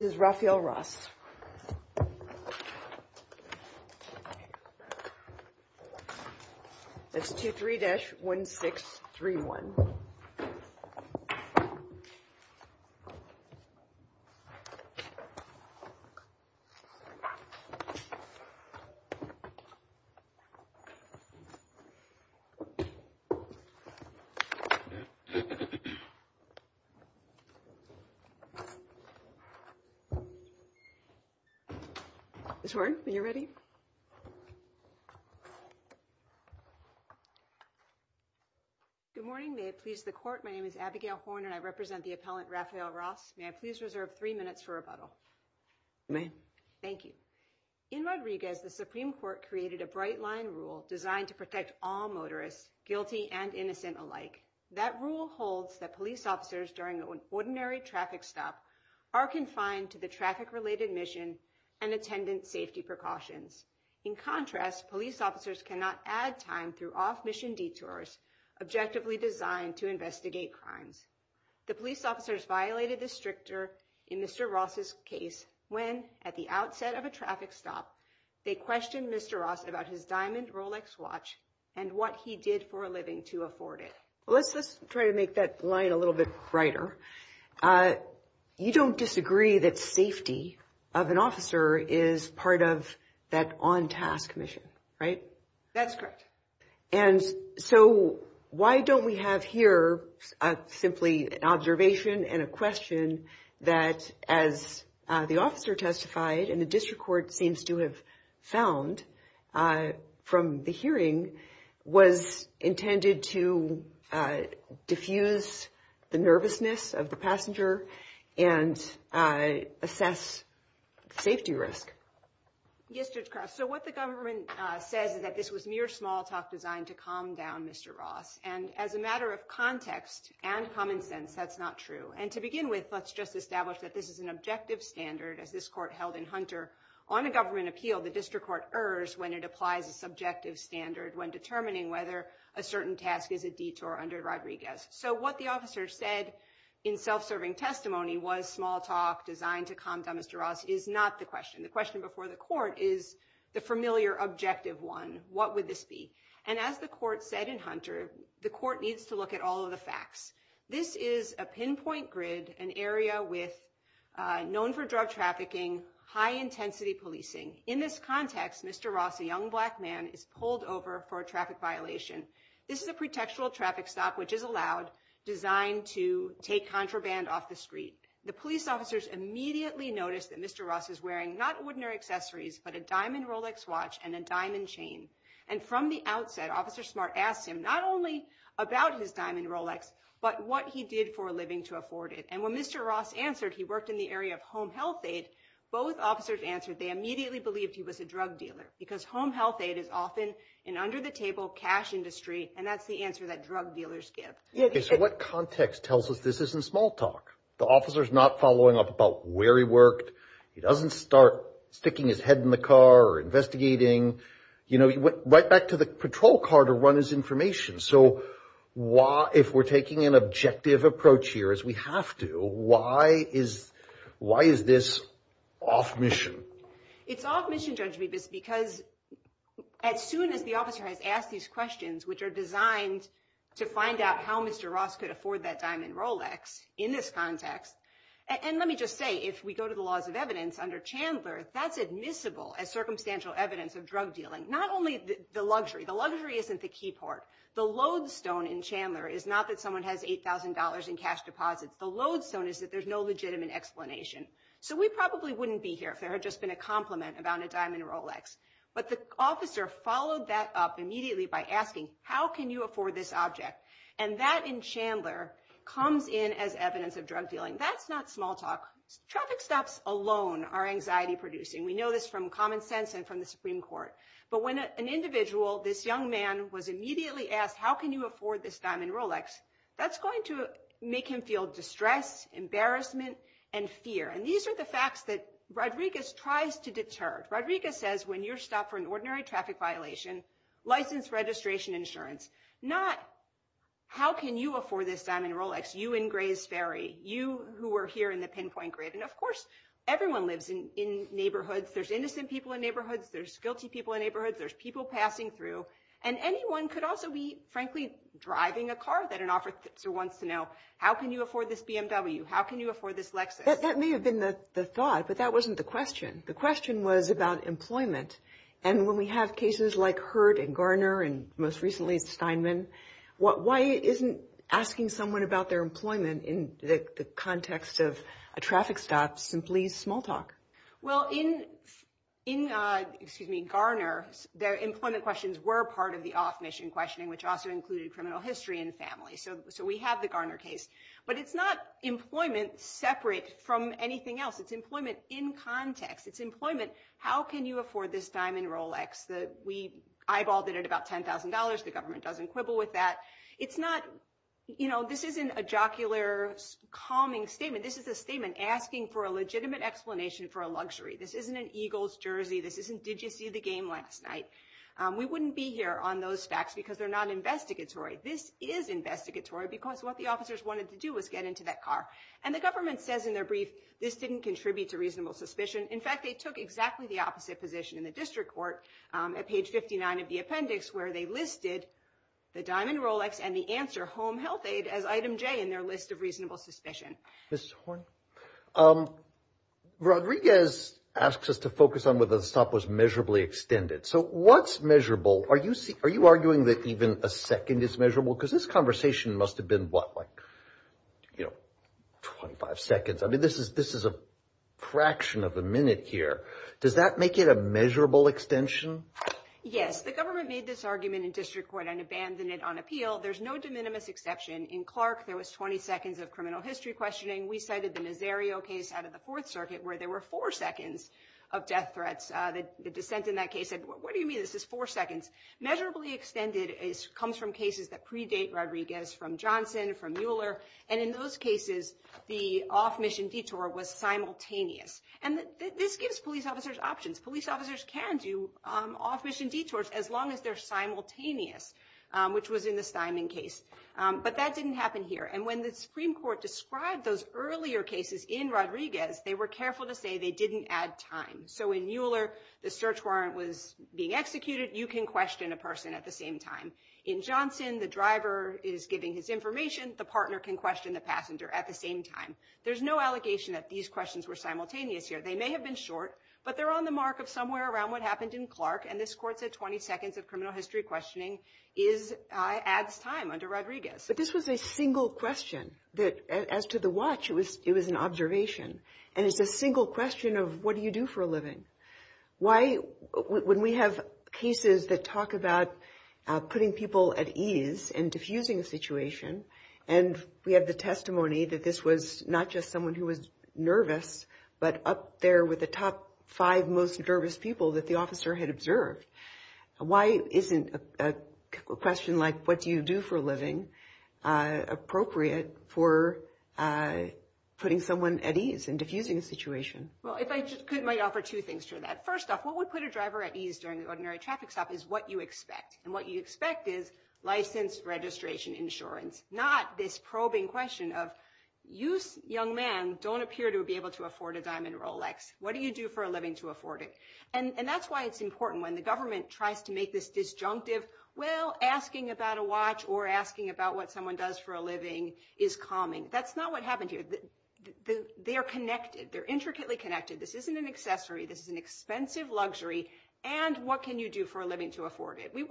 This is Raphael Ross. That's two three dash one six three one. Good morning, may it please the court. My name is Abigail Horner and I represent the appellant Raphael Ross. May I please reserve three minutes for rebuttal. Thank you in Rodriguez, the Supreme Court created a bright line rule designed to protect all motorists guilty and innocent alike. That rule holds that police officers during an ordinary traffic stop are confined to the traffic related mission and attendant safety precautions. In contrast, police officers cannot add time through off mission detours, objectively designed to investigate crimes. The police officers violated the stricter in Mr. Ross's case when at the outset of a traffic stop, they questioned Mr. Ross about his diamond Rolex watch and what he did for a living to afford it. Well, let's let's try to make that line a little bit brighter. You don't disagree that safety of an officer is part of that on task mission, right? That's correct. And so why don't we have here simply an observation and a question that, as the officer testified in the district court, seems to have found from the hearing was intended to diffuse the nervousness of the passenger and assess safety risk. Yes. So what the government says is that this was mere small talk designed to calm down Mr. Ross. And as a matter of context and common sense, that's not true. And to begin with, let's just establish that this is an objective standard as this court held in Hunter on a government appeal. The district court errs when it applies a subjective standard when determining whether a certain task is a detour under Rodriguez. So what the officer said in self-serving testimony was small talk designed to calm down Mr. Ross is not the question. The question before the court is the familiar objective one. What would this be? And as the court said in Hunter, the court needs to look at all of the facts. This is a pinpoint grid, an area with known for drug trafficking, high intensity policing. In this context, Mr. Ross, a young black man, is pulled over for a traffic violation. This is a pretextual traffic stop, which is allowed designed to take contraband off the street. The police officers immediately noticed that Mr. Ross is wearing not ordinary accessories, but a diamond Rolex watch and a diamond chain. And from the outset, Officer Smart asked him not only about his diamond Rolex, but what he did for a living to afford it. And when Mr. Ross answered, he worked in the area of home health aid. Both officers answered they immediately believed he was a drug dealer because home health aid is often an under the table cash industry. And that's the answer that drug dealers give. So what context tells us this isn't small talk? The officer is not following up about where he worked. He doesn't start sticking his head in the car or investigating. You know, he went right back to the patrol car to run his information. So why, if we're taking an objective approach here, as we have to, why is why is this off mission? It's off mission, Judge Bibas, because as soon as the officer has asked these questions, which are designed to find out how Mr. Ross could afford that diamond Rolex in this context. And let me just say, if we go to the laws of evidence under Chandler, that's admissible as circumstantial evidence of drug dealing. Not only the luxury. The luxury isn't the key part. The lodestone in Chandler is not that someone has $8,000 in cash deposits. The lodestone is that there's no legitimate explanation. So we probably wouldn't be here if there had just been a compliment about a diamond Rolex. But the officer followed that up immediately by asking, how can you afford this object? And that in Chandler comes in as evidence of drug dealing. That's not small talk. Traffic stops alone are anxiety producing. We know this from common sense and from the Supreme Court. But when an individual, this young man, was immediately asked, how can you afford this diamond Rolex? That's going to make him feel distress, embarrassment, and fear. And these are the facts that Rodriguez tries to deter. Rodriguez says, when you're stopped for an ordinary traffic violation, license, registration, insurance. Not, how can you afford this diamond Rolex? You in Gray's Ferry. You who were here in the pinpoint grid. And of course, everyone lives in neighborhoods. There's innocent people in neighborhoods. There's guilty people in neighborhoods. There's people passing through. And anyone could also be, frankly, driving a car that an officer wants to know, how can you afford this BMW? How can you afford this Lexus? That may have been the thought, but that wasn't the question. The question was about employment. And when we have cases like Hurd and Garner and most recently Steinman, why isn't asking someone about their employment in the context of a traffic stop simply small talk? Well, in Garner, their employment questions were part of the off-mission questioning, which also included criminal history and family. So we have the Garner case. But it's not employment separate from anything else. It's employment in context. It's employment, how can you afford this diamond Rolex? We eyeballed it at about $10,000. The government doesn't quibble with that. This isn't a jocular, calming statement. This is a statement asking for a legitimate explanation for a luxury. This isn't an Eagles jersey. This isn't, did you see the game last night? We wouldn't be here on those facts because they're not investigatory. This is investigatory because what the officers wanted to do was get into that car. And the government says in their brief, this didn't contribute to reasonable suspicion. In fact, they took exactly the opposite position in the district court at page 59 of the appendix, where they listed the diamond Rolex and the answer, home health aid, as item J in their list of reasonable suspicion. Mrs. Horne, Rodriguez asks us to focus on whether the stop was measurably extended. So what's measurable? Are you arguing that even a second is measurable? Because this conversation must have been, what, like, you know, 25 seconds. I mean, this is a fraction of a minute here. Does that make it a measurable extension? Yes. The government made this argument in district court and abandoned it on appeal. There's no de minimis exception. In Clark, there was 20 seconds of criminal history questioning. We cited the Nazario case out of the Fourth Circuit, where there were four seconds of death threats. The dissent in that case said, what do you mean this is four seconds? Measurably extended comes from cases that predate Rodriguez, from Johnson, from Mueller. And in those cases, the off-mission detour was simultaneous. And this gives police officers options. Police officers can do off-mission detours as long as they're simultaneous, which was in the Steinman case. But that didn't happen here. And when the Supreme Court described those earlier cases in Rodriguez, they were careful to say they didn't add time. So in Mueller, the search warrant was being executed. You can question a person at the same time. In Johnson, the driver is giving his information. The partner can question the passenger at the same time. There's no allegation that these questions were simultaneous here. They may have been short, but they're on the mark of somewhere around what happened in Clark. And this court said 20 seconds of criminal history questioning adds time under Rodriguez. But this was a single question that, as to the watch, it was an observation. And it's a single question of, what do you do for a living? Why, when we have cases that talk about putting people at ease and diffusing a situation, and we have the testimony that this was not just someone who was nervous, but up there with the top five most nervous people that the officer had observed, why isn't a question like, what do you do for a living, appropriate for putting someone at ease and diffusing a situation? Well, if I could, I might offer two things to that. First off, what would put a driver at ease during an ordinary traffic stop is what you expect. And what you expect is license, registration, insurance. Not this probing question of, you, young man, don't appear to be able to afford a diamond Rolex. What do you do for a living to afford it? And that's why it's important when the government tries to make this disjunctive, well, asking about a watch or asking about what someone does for a living is calming. That's not what happened here. They are connected. They're intricately connected. This isn't an accessory. This is an expensive luxury. And what can you do for a living to afford it? We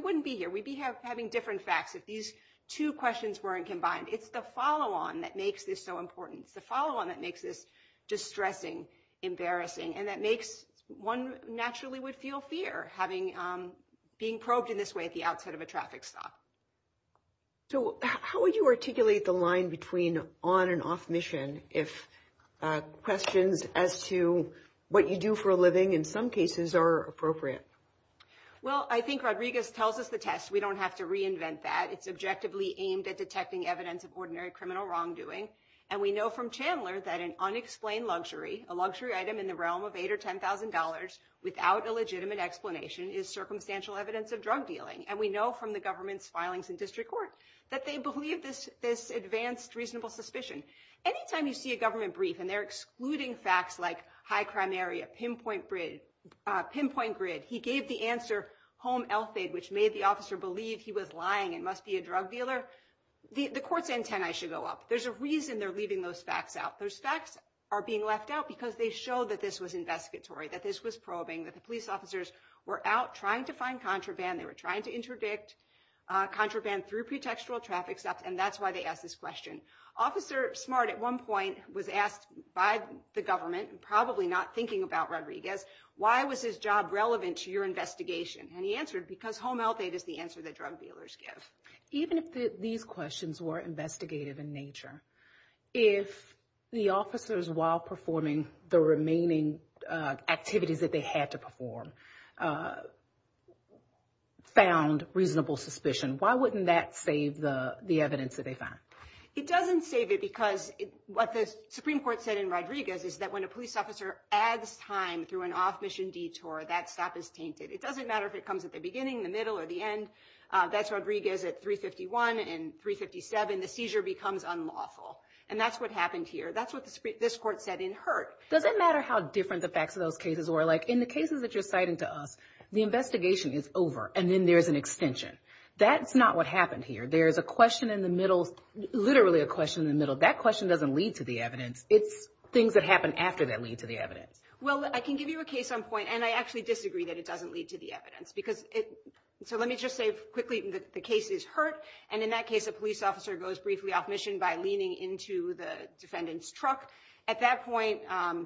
wouldn't be here. We'd be having different facts if these two questions weren't combined. It's the follow-on that makes this so important. It's the follow-on that makes this distressing, embarrassing. And that makes one naturally would feel fear being probed in this way at the outset of a traffic stop. So how would you articulate the line between on and off mission if questions as to what you do for a living in some cases are appropriate? Well, I think Rodriguez tells us the test. We don't have to reinvent that. It's objectively aimed at detecting evidence of ordinary criminal wrongdoing. And we know from Chandler that an unexplained luxury, a luxury item in the realm of $8,000 or $10,000 without a legitimate explanation is circumstantial evidence of drug dealing. And we know from the government's filings in district court that they believe this advanced reasonable suspicion. Anytime you see a government brief and they're excluding facts like high crime area, pinpoint grid, he gave the answer home LFAID, which made the officer believe he was lying and must be a drug dealer, the court's antennae should go up. There's a reason they're leaving those facts out. Those facts are being left out because they show that this was investigatory, that this was probing, that the police officers were out trying to find contraband. They were trying to interdict contraband through pretextual traffic stops. And that's why they asked this question. Officer Smart at one point was asked by the government, probably not thinking about Rodriguez, why was his job relevant to your investigation? And he answered, because home LFAID is the answer that drug dealers give. Even if these questions were investigative in nature, if the officers while performing the remaining activities that they had to perform found reasonable suspicion, why wouldn't that save the evidence that they found? It doesn't save it because what the Supreme Court said in Rodriguez is that when a police officer adds time through an off-mission detour, that stop is tainted. It doesn't matter if it comes at the beginning, the middle, or the end. That's Rodriguez at 351 and 357. The seizure becomes unlawful. And that's what happened here. That's what this court said in Hurt. Does it matter how different the facts of those cases were? Like in the cases that you're citing to us, the investigation is over, and then there's an extension. That's not what happened here. There's a question in the middle, literally a question in the middle. That question doesn't lead to the evidence. It's things that happen after that lead to the evidence. Well, I can give you a case on point. And I actually disagree that it doesn't lead to the evidence. So let me just say quickly that the case is Hurt. And in that case, a police officer goes briefly off-mission by leaning into the defendant's truck. At that point,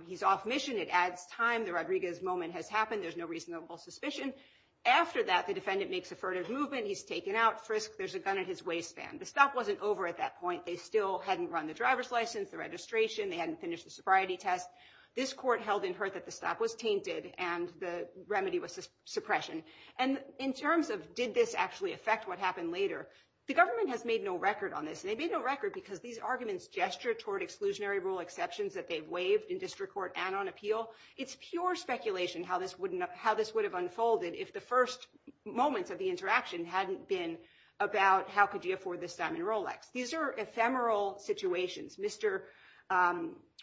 he's off-mission. It adds time. The Rodriguez moment has happened. There's no reasonable suspicion. After that, the defendant makes a furtive movement. He's taken out. Frisk. There's a gun in his waistband. The stop wasn't over at that point. They still hadn't run the driver's license, the registration. They hadn't finished the sobriety test. This court held in Hurt that the stop was tainted and the remedy was suppression. And in terms of did this actually affect what happened later, the government has made no record on this. And they made no record because these arguments gesture toward exclusionary rule exceptions that they've waived in district court and on appeal. It's pure speculation how this would have unfolded if the first moments of the interaction hadn't been about how could you afford this diamond Rolex. These are ephemeral situations. Mr.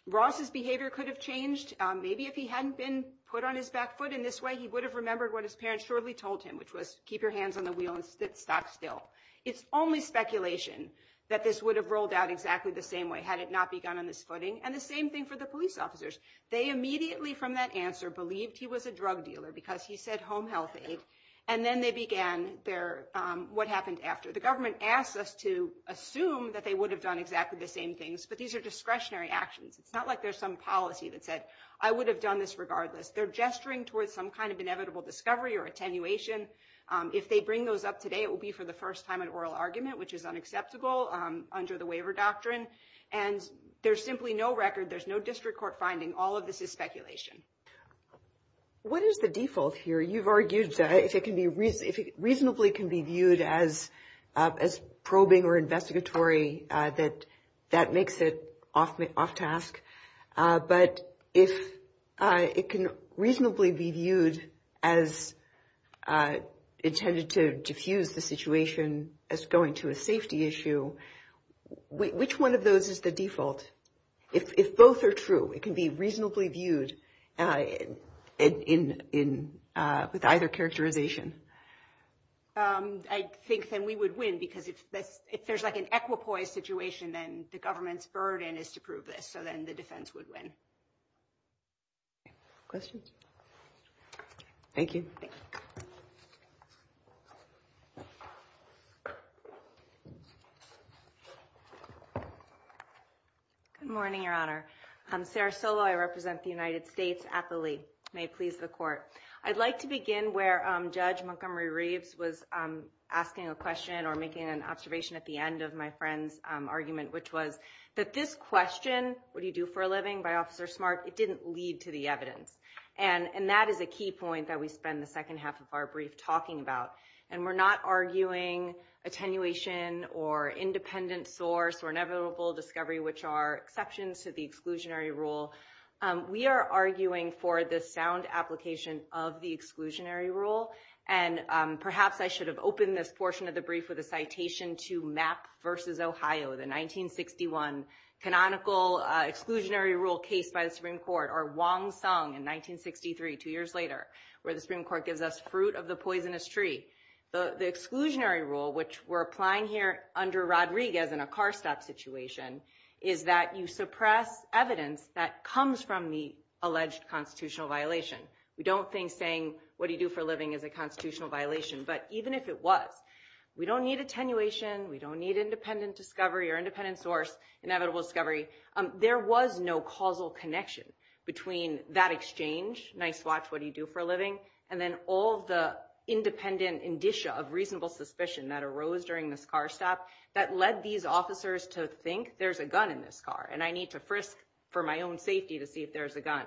Ross's behavior could have changed. Maybe if he hadn't been put on his back foot in this way, he would have remembered what his parents shortly told him, which was keep your hands on the wheel and stop still. It's only speculation that this would have rolled out exactly the same way had it not begun on this footing. And the same thing for the police officers. They immediately, from that answer, believed he was a drug dealer because he said home health aid. And then they began what happened after. The government asks us to assume that they would have done exactly the same things. But these are discretionary actions. It's not like there's some policy that said, I would have done this regardless. They're gesturing towards some kind of inevitable discovery or attenuation. If they bring those up today, it will be for the first time an oral argument, which is unacceptable under the waiver doctrine. And there's simply no record. There's no district court finding. All of this is speculation. What is the default here? You've argued if it reasonably can be viewed as probing or investigatory, that that makes it off task. But if it can reasonably be viewed as intended to diffuse the situation as going to a safety issue, which one of those is the default? If both are true, it can be reasonably viewed with either characterization. I think that we would win because if there's like an equipoise situation, then the government's burden is to prove this. So then the defense would win. Questions? Thank you. Good morning, Your Honor. Sarah Solo, I represent the United States at the Lee. May it please the court. I'd like to begin where Judge Montgomery Reeves was asking a question or making an observation at the end of my friend's argument, which was that this question, what do you do for a living, by Officer Smart, it didn't lead to the evidence. And that is a key point that we spend the second half of our brief talking about. And we're not arguing attenuation or independent source or inevitable discovery, which are exceptions to the exclusionary rule. We are arguing for the sound application of the exclusionary rule. And perhaps I should have opened this portion of the brief with a citation to Mapp versus Ohio, the 1961 canonical exclusionary rule case by the Supreme Court or Wong Sung in 1963, two years later, where the Supreme Court gives us fruit of the poisonous tree. But the exclusionary rule, which we're applying here under Rodriguez in a car stop situation, is that you suppress evidence that comes from the alleged constitutional violation. We don't think saying, what do you do for a living is a constitutional violation. But even if it was, we don't need attenuation. We don't need independent discovery or independent source, inevitable discovery. There was no causal connection between that exchange, nice watch, what do you do for a living, and then all the independent indicia of reasonable suspicion that arose during this car stop that led these officers to think, there's a gun in this car, and I need to frisk for my own safety to see if there's a gun.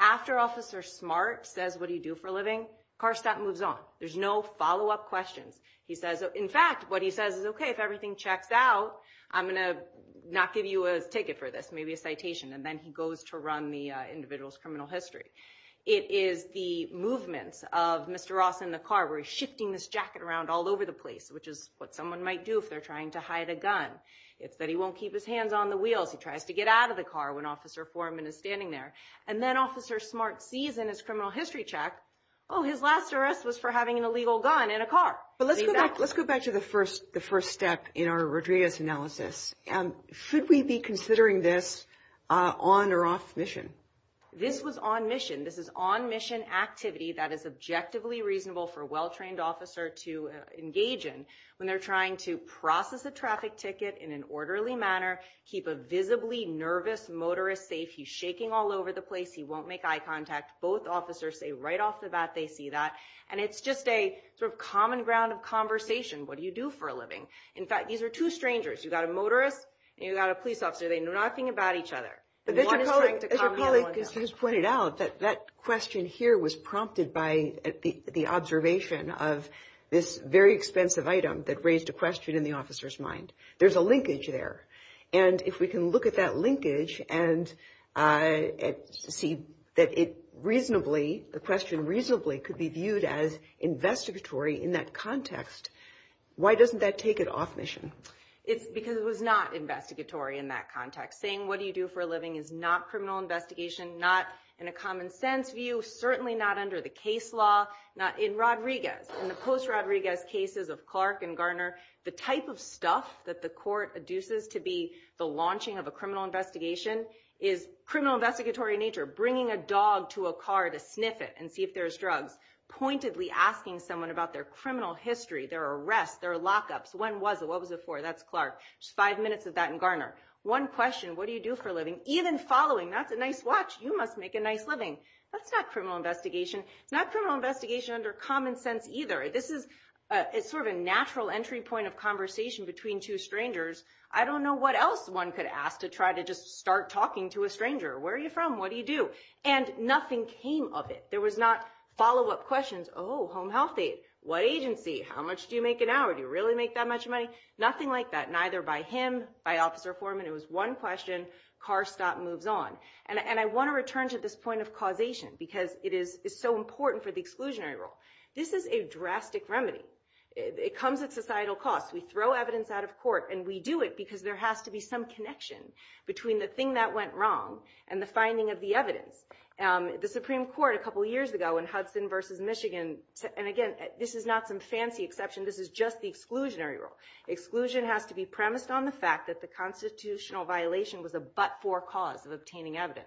After Officer Smart says, what do you do for a living, car stop moves on. There's no follow-up questions. He says, in fact, what he says is, OK, if everything checks out, I'm going to not give you a ticket for this, maybe a citation. And then he goes to run the individual's criminal history. It is the movements of Mr. Ross in the car where he's shifting his jacket around all over the place, which is what someone might do if they're trying to hide a gun. It's that he won't keep his hands on the wheels. He tries to get out of the car when Officer Foreman is standing there. And then Officer Smart sees in his criminal history check, oh, his last arrest was for having an illegal gun in a car. But let's go back to the first step in our Rodriguez analysis. Should we be considering this on or off mission? This was on mission. This is on mission activity that is objectively reasonable for a well-trained officer to engage in when they're trying to process a traffic ticket in an orderly manner, keep a visibly nervous motorist safe. He's shaking all over the place. He won't make eye contact. Both officers say right off the bat they see that. And it's just a sort of common ground of conversation. What do you do for a living? In fact, these are two strangers. You've got a motorist and you've got a police officer. They know nothing about each other. But as your colleague just pointed out, that question here was prompted by the observation of this very expensive item that raised a question in the officer's mind. There's a linkage there. And if we can look at that linkage and see that it reasonably, the question reasonably could be viewed as investigatory in that context, why doesn't that take it off mission? It's because it was not investigatory in that context. Saying what do you do for a living is not criminal investigation, not in a common sense view, certainly not under the case law, not in Rodriguez. In the post-Rodriguez cases of Clark and Garner, the type of stuff that the court adduces to be the launching of a criminal investigation is criminal investigatory in nature. Bringing a dog to a car to sniff it and see if there's drugs. Pointedly asking someone about their criminal history, their arrest, their lockups. When was it? What was it for? That's Clark. Just five minutes of that in Garner. One question, what do you do for a living? Even following, that's a nice watch. You must make a nice living. That's not criminal investigation. It's not criminal investigation under common sense either. This is sort of a natural entry point of conversation between two strangers. I don't know what else one could ask to try to just start talking to a stranger. Where are you from? What do you do? And nothing came of it. There was not follow-up questions. Oh, home health aid. What agency? How much do you make an hour? Do you really make that much money? Nothing like that. Neither by him, by officer Foreman. It was one question, car stop, moves on. And I want to return to this point of causation because it is so important for the exclusionary rule. This is a drastic remedy. It comes at societal cost. We throw evidence out of court and we do it because there has to be some connection between the thing that went wrong and the finding of the evidence. The Supreme Court a couple years ago in Hudson versus Michigan, and again, this is not some fancy exception. This is just the exclusionary rule. Exclusion has to be premised on the fact that the constitutional violation was a but-for cause of obtaining evidence.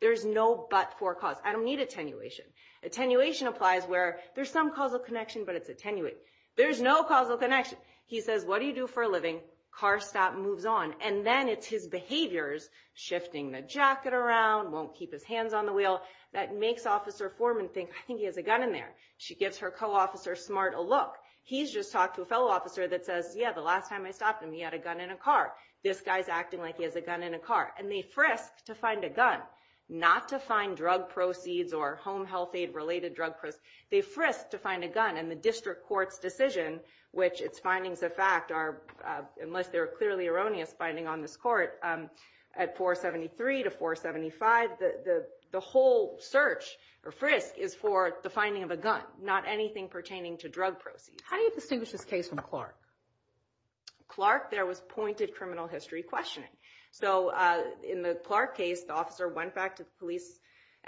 There's no but-for cause. I don't need attenuation. Attenuation applies where there's some causal connection, but it's attenuated. There's no causal connection. He says, what do you do for a living? Car stop, moves on. And then it's his behaviors, shifting the jacket around, won't keep his hands on the wheel, that makes Officer Foreman think, I think he has a gun in there. She gives her co-officer, Smart, a look. He's just talked to a fellow officer that says, yeah, the last time I stopped him, he had a gun in a car. This guy's acting like he has a gun in a car. And they frisk to find a gun, not to find drug proceeds or home health aid-related drug proceeds. They frisk to find a gun. And the district court's decision, which its findings of fact are, unless they're clearly erroneous finding on this court, at 473 to 475, the whole search or frisk is for the finding of a gun, not anything pertaining to drug proceeds. How do you distinguish this case from Clark? Clark, there was pointed criminal history questioning. So in the Clark case, the officer went back to the police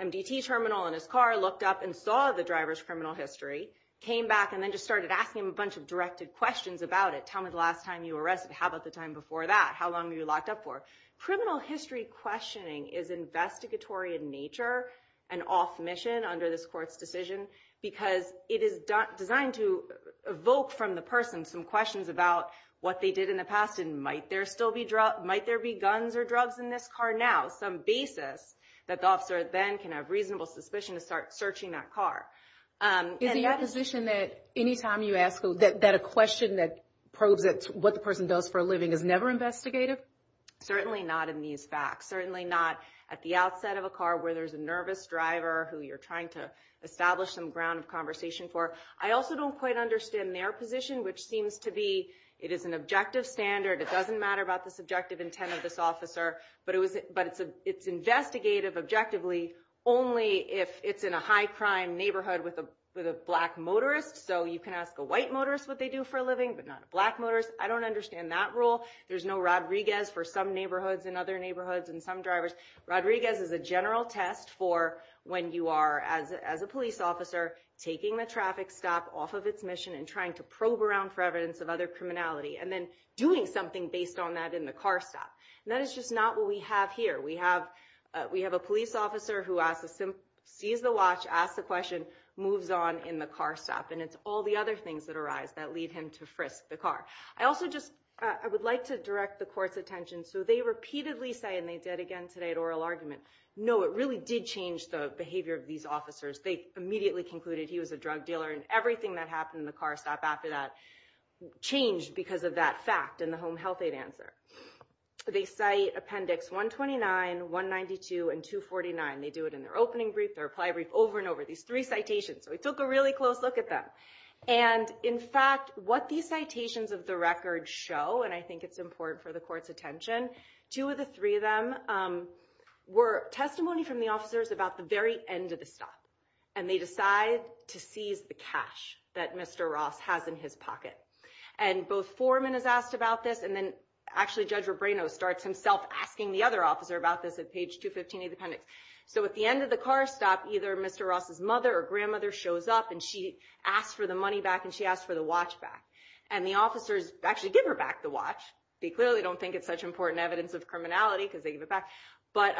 MDT terminal in his car, looked up, and saw the driver's criminal history, came back, and then just started asking him a bunch of directed questions about it. Tell me the last time you were arrested. How about the time before that? How long were you locked up for? Criminal history questioning is investigatory in nature and off mission under this court's decision because it is designed to evoke from the person some questions about what they did in the past. And might there still be drugs? Might there be guns or drugs in this car now? Some basis that the officer then can have reasonable suspicion to start searching that Is it your position that any time you ask that a question that proves that what the person does for a living is never investigative? Certainly not in these facts. Certainly not at the outset of a car where there's a nervous driver who you're trying to establish some ground of conversation for. I also don't quite understand their position, which seems to be it is an objective standard. It doesn't matter about the subjective intent of this officer, but it's investigative objectively only if it's in a high crime neighborhood with a black motorist. So you can ask a white motorist what they do for a living, but not a black motorist. I don't understand that rule. There's no Rodriguez for some neighborhoods and other neighborhoods and some drivers. Rodriguez is a general test for when you are, as a police officer, taking the traffic stop off of its mission and trying to probe around for evidence of other criminality and then doing something based on that in the car stop. And that is just not what we have here. We have a police officer who sees the watch, asks the question, moves on in the car stop. And it's all the other things that arise that lead him to frisk the car. I would like to direct the court's attention. So they repeatedly say, and they did again today at oral argument, no, it really did change the behavior of these officers. They immediately concluded he was a drug dealer. And everything that happened in the car stop after that changed because of that fact in the Home Health Aid answer. They cite Appendix 129, 192, and 249. They do it in their opening brief, their reply brief, over and over, these three citations. So we took a really close look at them. And in fact, what these citations of the record show, and I think it's important for the court's attention, two of the three of them were testimony from the officers about the very end of the stop. And they decide to seize the cash that Mr. Ross has in his pocket. And both foreman is asked about this. And then actually, Judge Rebrano starts himself asking the other officer about this at page 215 of the appendix. So at the end of the car stop, either Mr. Ross's mother or grandmother shows up. And she asks for the money back. And she asks for the watch back. And the officers actually give her back the watch. They clearly don't think it's such important evidence of criminality because they give it back. But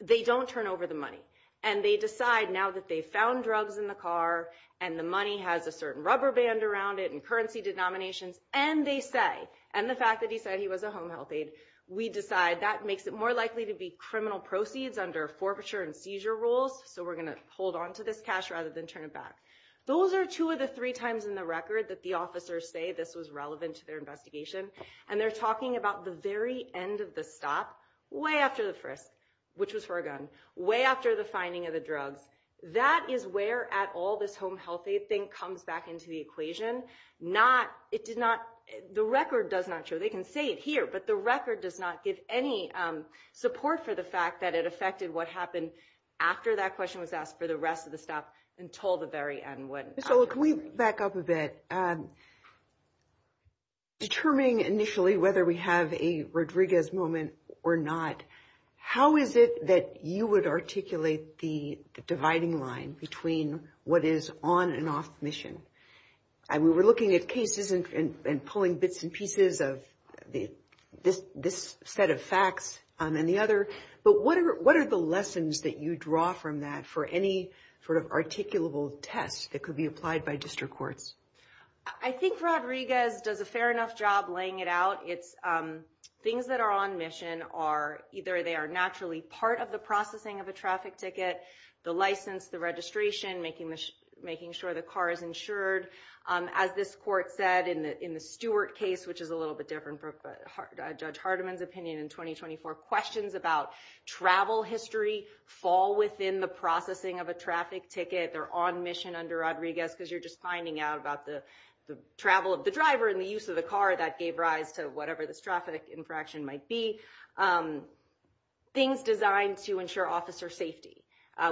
they don't turn over the money. And they decide now that they found drugs in the car, and the money has a certain rubber band around it and currency denominations. And they say, and the fact that he said he was a home health aide, we decide that makes it more likely to be criminal proceeds under forfeiture and seizure rules. So we're going to hold on to this cash rather than turn it back. Those are two of the three times in the record that the officers say this was relevant to their investigation. And they're talking about the very end of the stop, way after the frisk, which was for a gun, way after the finding of the drugs. That is where, at all, this home health aide thing comes back into the equation. The record does not show. They can say it here. But the record does not give any support for the fact that it affected what happened after that question was asked for the rest of the stop until the very end. So can we back up a bit? Determining initially whether we have a Rodriguez moment or not, how is it that you would articulate the dividing line between what is on and off mission? We were looking at cases and pulling bits and pieces of this set of facts and the other. But what are the lessons that you draw from that for any sort of articulable test that could be applied by district courts? I think Rodriguez does a fair enough job laying it out. It's things that are on mission are either they are naturally part of the processing of a traffic ticket, the license, the registration, making sure the car is insured. As this court said in the Stewart case, which is a little bit different from Judge Hardiman's opinion in 2024, questions about travel history fall within the processing of a traffic ticket. They're on mission under Rodriguez because you're just finding out about the travel of the driver and the use of the car that gave rise to whatever this traffic infraction might be. There are things designed to ensure officer safety,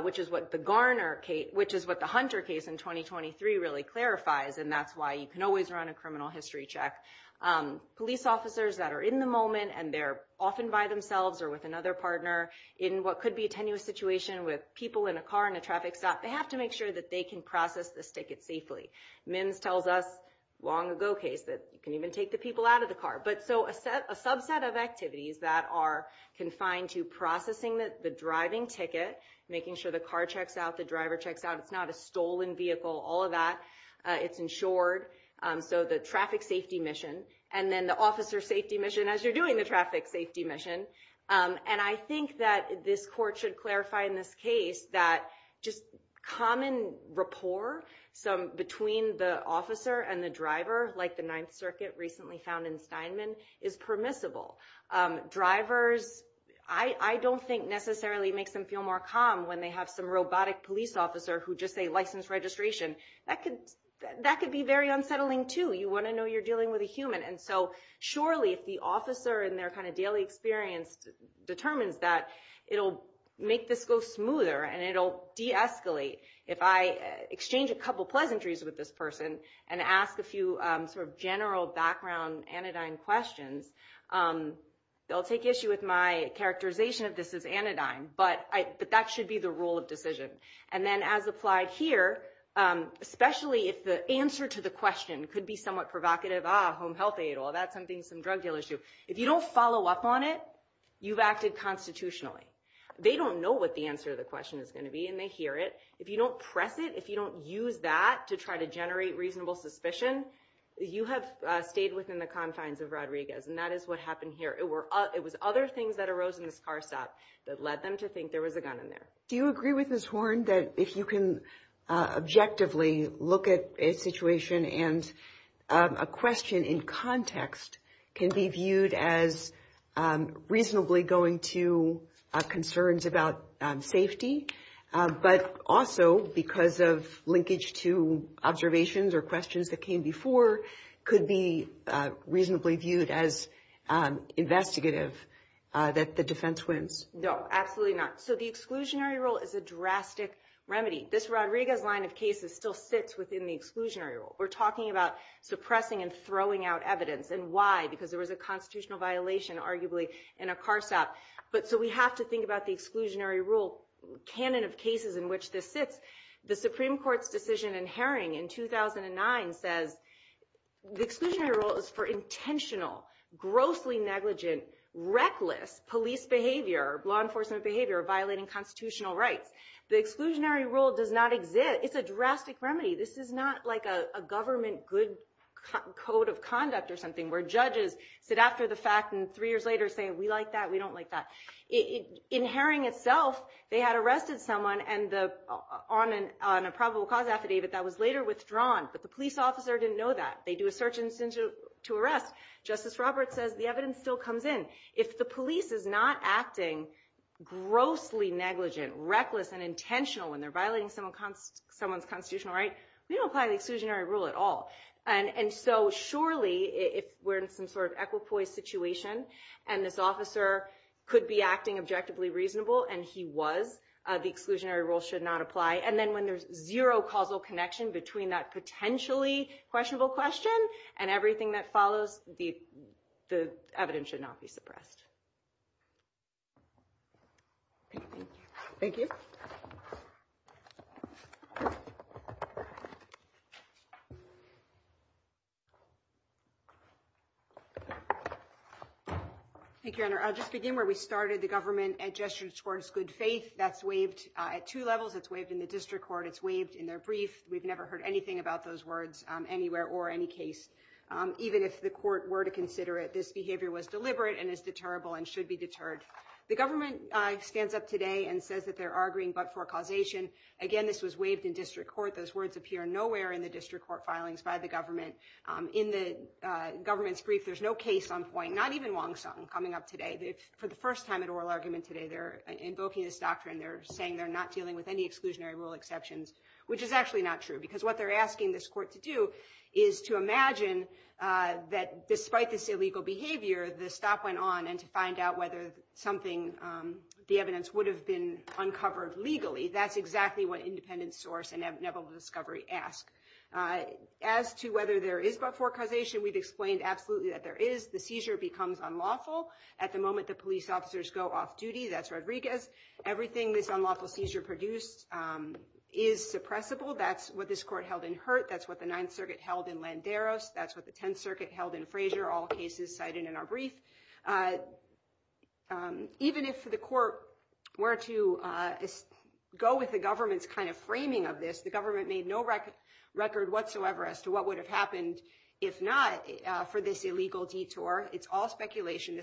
which is what the Hunter case in 2023 really clarifies. And that's why you can always run a criminal history check. Police officers that are in the moment and they're often by themselves or with another partner in what could be a tenuous situation with people in a car in a traffic stop, they have to make sure that they can process this ticket safely. Mims tells us long ago case that you can even take the people out of the car. So a subset of activities that are confined to processing the driving ticket, making sure the car checks out, the driver checks out, it's not a stolen vehicle, all of that, it's insured. So the traffic safety mission and then the officer safety mission as you're doing the traffic safety mission. And I think that this court should clarify in this case that just common rapport between the officer and the driver like the Ninth Circuit recently found in Steinman is permissible. Drivers, I don't think necessarily makes them feel more calm when they have some robotic police officer who just say license registration. That could be very unsettling too. You want to know you're dealing with a human. And so surely if the officer and their kind of daily experience determines that, it'll make this go smoother and it'll deescalate. If I exchange a couple pleasantries with this person and ask a few sort of general background anodyne questions, they'll take issue with my characterization of this as anodyne, but that should be the rule of decision. And then as applied here, especially if the answer to the question could be somewhat provocative, ah, home health aid, all that, something, some drug deal issue. If you don't follow up on it, you've acted constitutionally. They don't know what the answer to the question is going to be and they hear it. If you don't press it, if you don't use that to try to generate reasonable suspicion, you have stayed within the confines of Rodriguez. And that is what happened here. It was other things that arose in this car stop that led them to think there was a gun in there. Do you agree with Ms. Horne that if you can objectively look at a situation and a question in context can be viewed as reasonably going to concerns about safety, but also because of linkage to observations or questions that came before could be reasonably viewed as investigative that the defense wins? No, absolutely not. So the exclusionary rule is a drastic remedy. This Rodriguez line of cases still sits within the exclusionary rule. We're talking about suppressing and throwing out evidence and why, because there was a constitutional violation arguably in a car stop. But so we have to think about the exclusionary rule canon of cases in which this sits. The Supreme Court's decision in Herring in 2009 says the exclusionary rule is for intentional, grossly negligent, reckless police behavior, law enforcement behavior, violating constitutional rights. The exclusionary rule does not exist. It's a drastic remedy. This is not like a government good code of conduct or something where judges sit after the fact and three years later say, we like that, we don't like that. In Herring itself, they had arrested someone on a probable cause affidavit that was later withdrawn. But the police officer didn't know that. They do a search and censure to arrest. Justice Roberts says the evidence still comes in. If the police is not acting grossly negligent, reckless, and intentional when they're violating someone's constitutional right, we don't apply the exclusionary rule at all. And so surely, if we're in some sort of equipoise situation and this officer could be acting objectively reasonable, and he was, the exclusionary rule should not apply. And then when there's zero causal connection between that potentially questionable question and everything that follows, the evidence should not be suppressed. Thank you. Thank you, Your Honor. I'll just begin where we started. The government gestured towards good faith. That's waived at two levels. It's waived in the district court. It's waived in their brief. We've never heard anything about those words anywhere or any case. Even if the court were to consider it, this behavior was deliberate and is deterrable and should be deterred. The government stands up today and says that they're arguing but for causation. Again, this was waived in district court. Those words appear nowhere in the district court filings by the government. In the government's brief, there's no case on point, not even Wong Sung coming up today. For the first time in oral argument today, they're invoking this doctrine. They're saying they're not dealing with any exclusionary rule exceptions, which is actually not true because what they're asking this court to do is to imagine that despite this illegal behavior, the stop went on and to find out whether something, the evidence would have been uncovered legally. That's exactly what independent source and inevitable discovery ask. As to whether there is but for causation, we've explained absolutely that there is. The seizure becomes unlawful at the moment the police officers go off duty. That's Rodriguez. Everything this unlawful seizure produced is suppressible. That's what this court held in Hurt. That's what the Ninth Circuit held in Landeros. That's what the Tenth Circuit held in Frazier. All cases cited in our brief. Even if the court were to go with the government's kind of framing of this, the government made no record whatsoever as to what would have happened if not for this illegal detour. It's all speculation.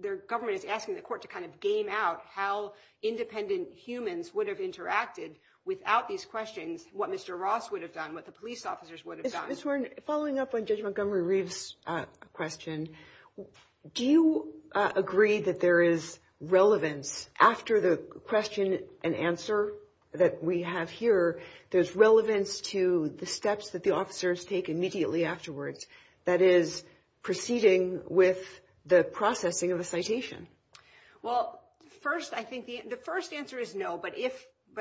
The government is asking the court to kind of game out how independent humans would have interacted without these questions, what Mr. Ross would have done, what the police officers would have done. Ms. Horn, following up on Judge Montgomery-Reeves' question, do you agree that there is relevance after the question and answer that we have here, there's relevance to the steps that the officers take immediately afterwards, that is proceeding with the processing of a citation? Well, first, I think the first answer is no, but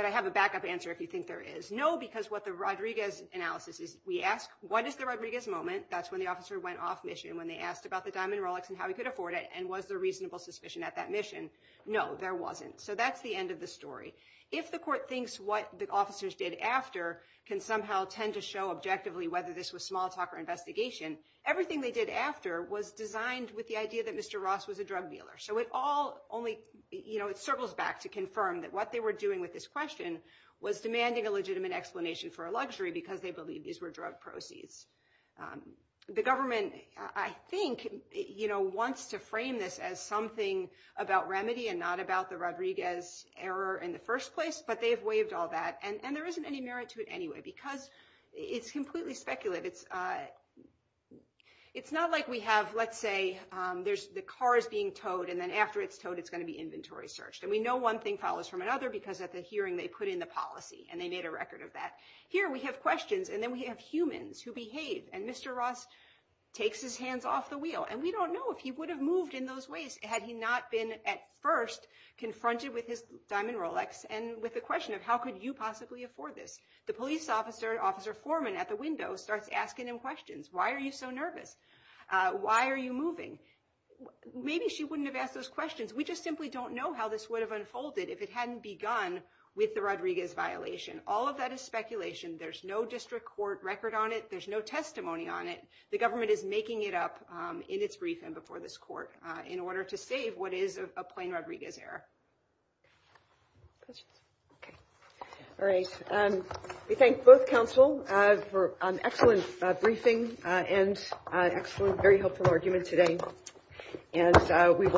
I have a backup answer if you think there is. No, because what the Rodriguez analysis is, we ask, what is the Rodriguez moment? That's when the officer went off mission, when they asked about the diamond Rolex and how he could afford it, and was there reasonable suspicion at that mission? No, there wasn't. So that's the end of the story. If the court thinks what the officers did after can somehow tend to show objectively whether this was small talk or investigation, everything they did after was designed with the idea that Mr. Ross was a drug dealer. So it all only circles back to confirm that what they were doing with this question was demanding a legitimate explanation for a luxury, because they believed these were drug proceeds. The government, I think, wants to frame this as something about remedy and not about the Rodriguez error in the first place, but they've waived all that. And there isn't any merit to it anyway, because it's completely speculative. It's not like we have, let's say, the car is being towed, and then after it's towed, it's going to be inventory searched. And we know one thing follows from another, because at the hearing, they put in the policy, and they made a record of that. Here, we have questions, and then we have humans who behave. And Mr. Ross takes his hands off the wheel. And we don't know if he would have moved in those ways had he not been, at first, confronted with his diamond Rolex and with the question of, how could you possibly afford this? The police officer, Officer Foreman at the window, starts asking him questions. Why are you so nervous? Why are you moving? Maybe she wouldn't have asked those questions. We just simply don't know how this would have unfolded if it hadn't begun with the Rodriguez violation. All of that is speculation. There's no district court record on it. There's no testimony on it. The government is making it up in its brief and before this court in order to save what is a plain Rodriguez error. Questions? OK. All right. We thank both counsel for an excellent briefing and excellent, very helpful argument today.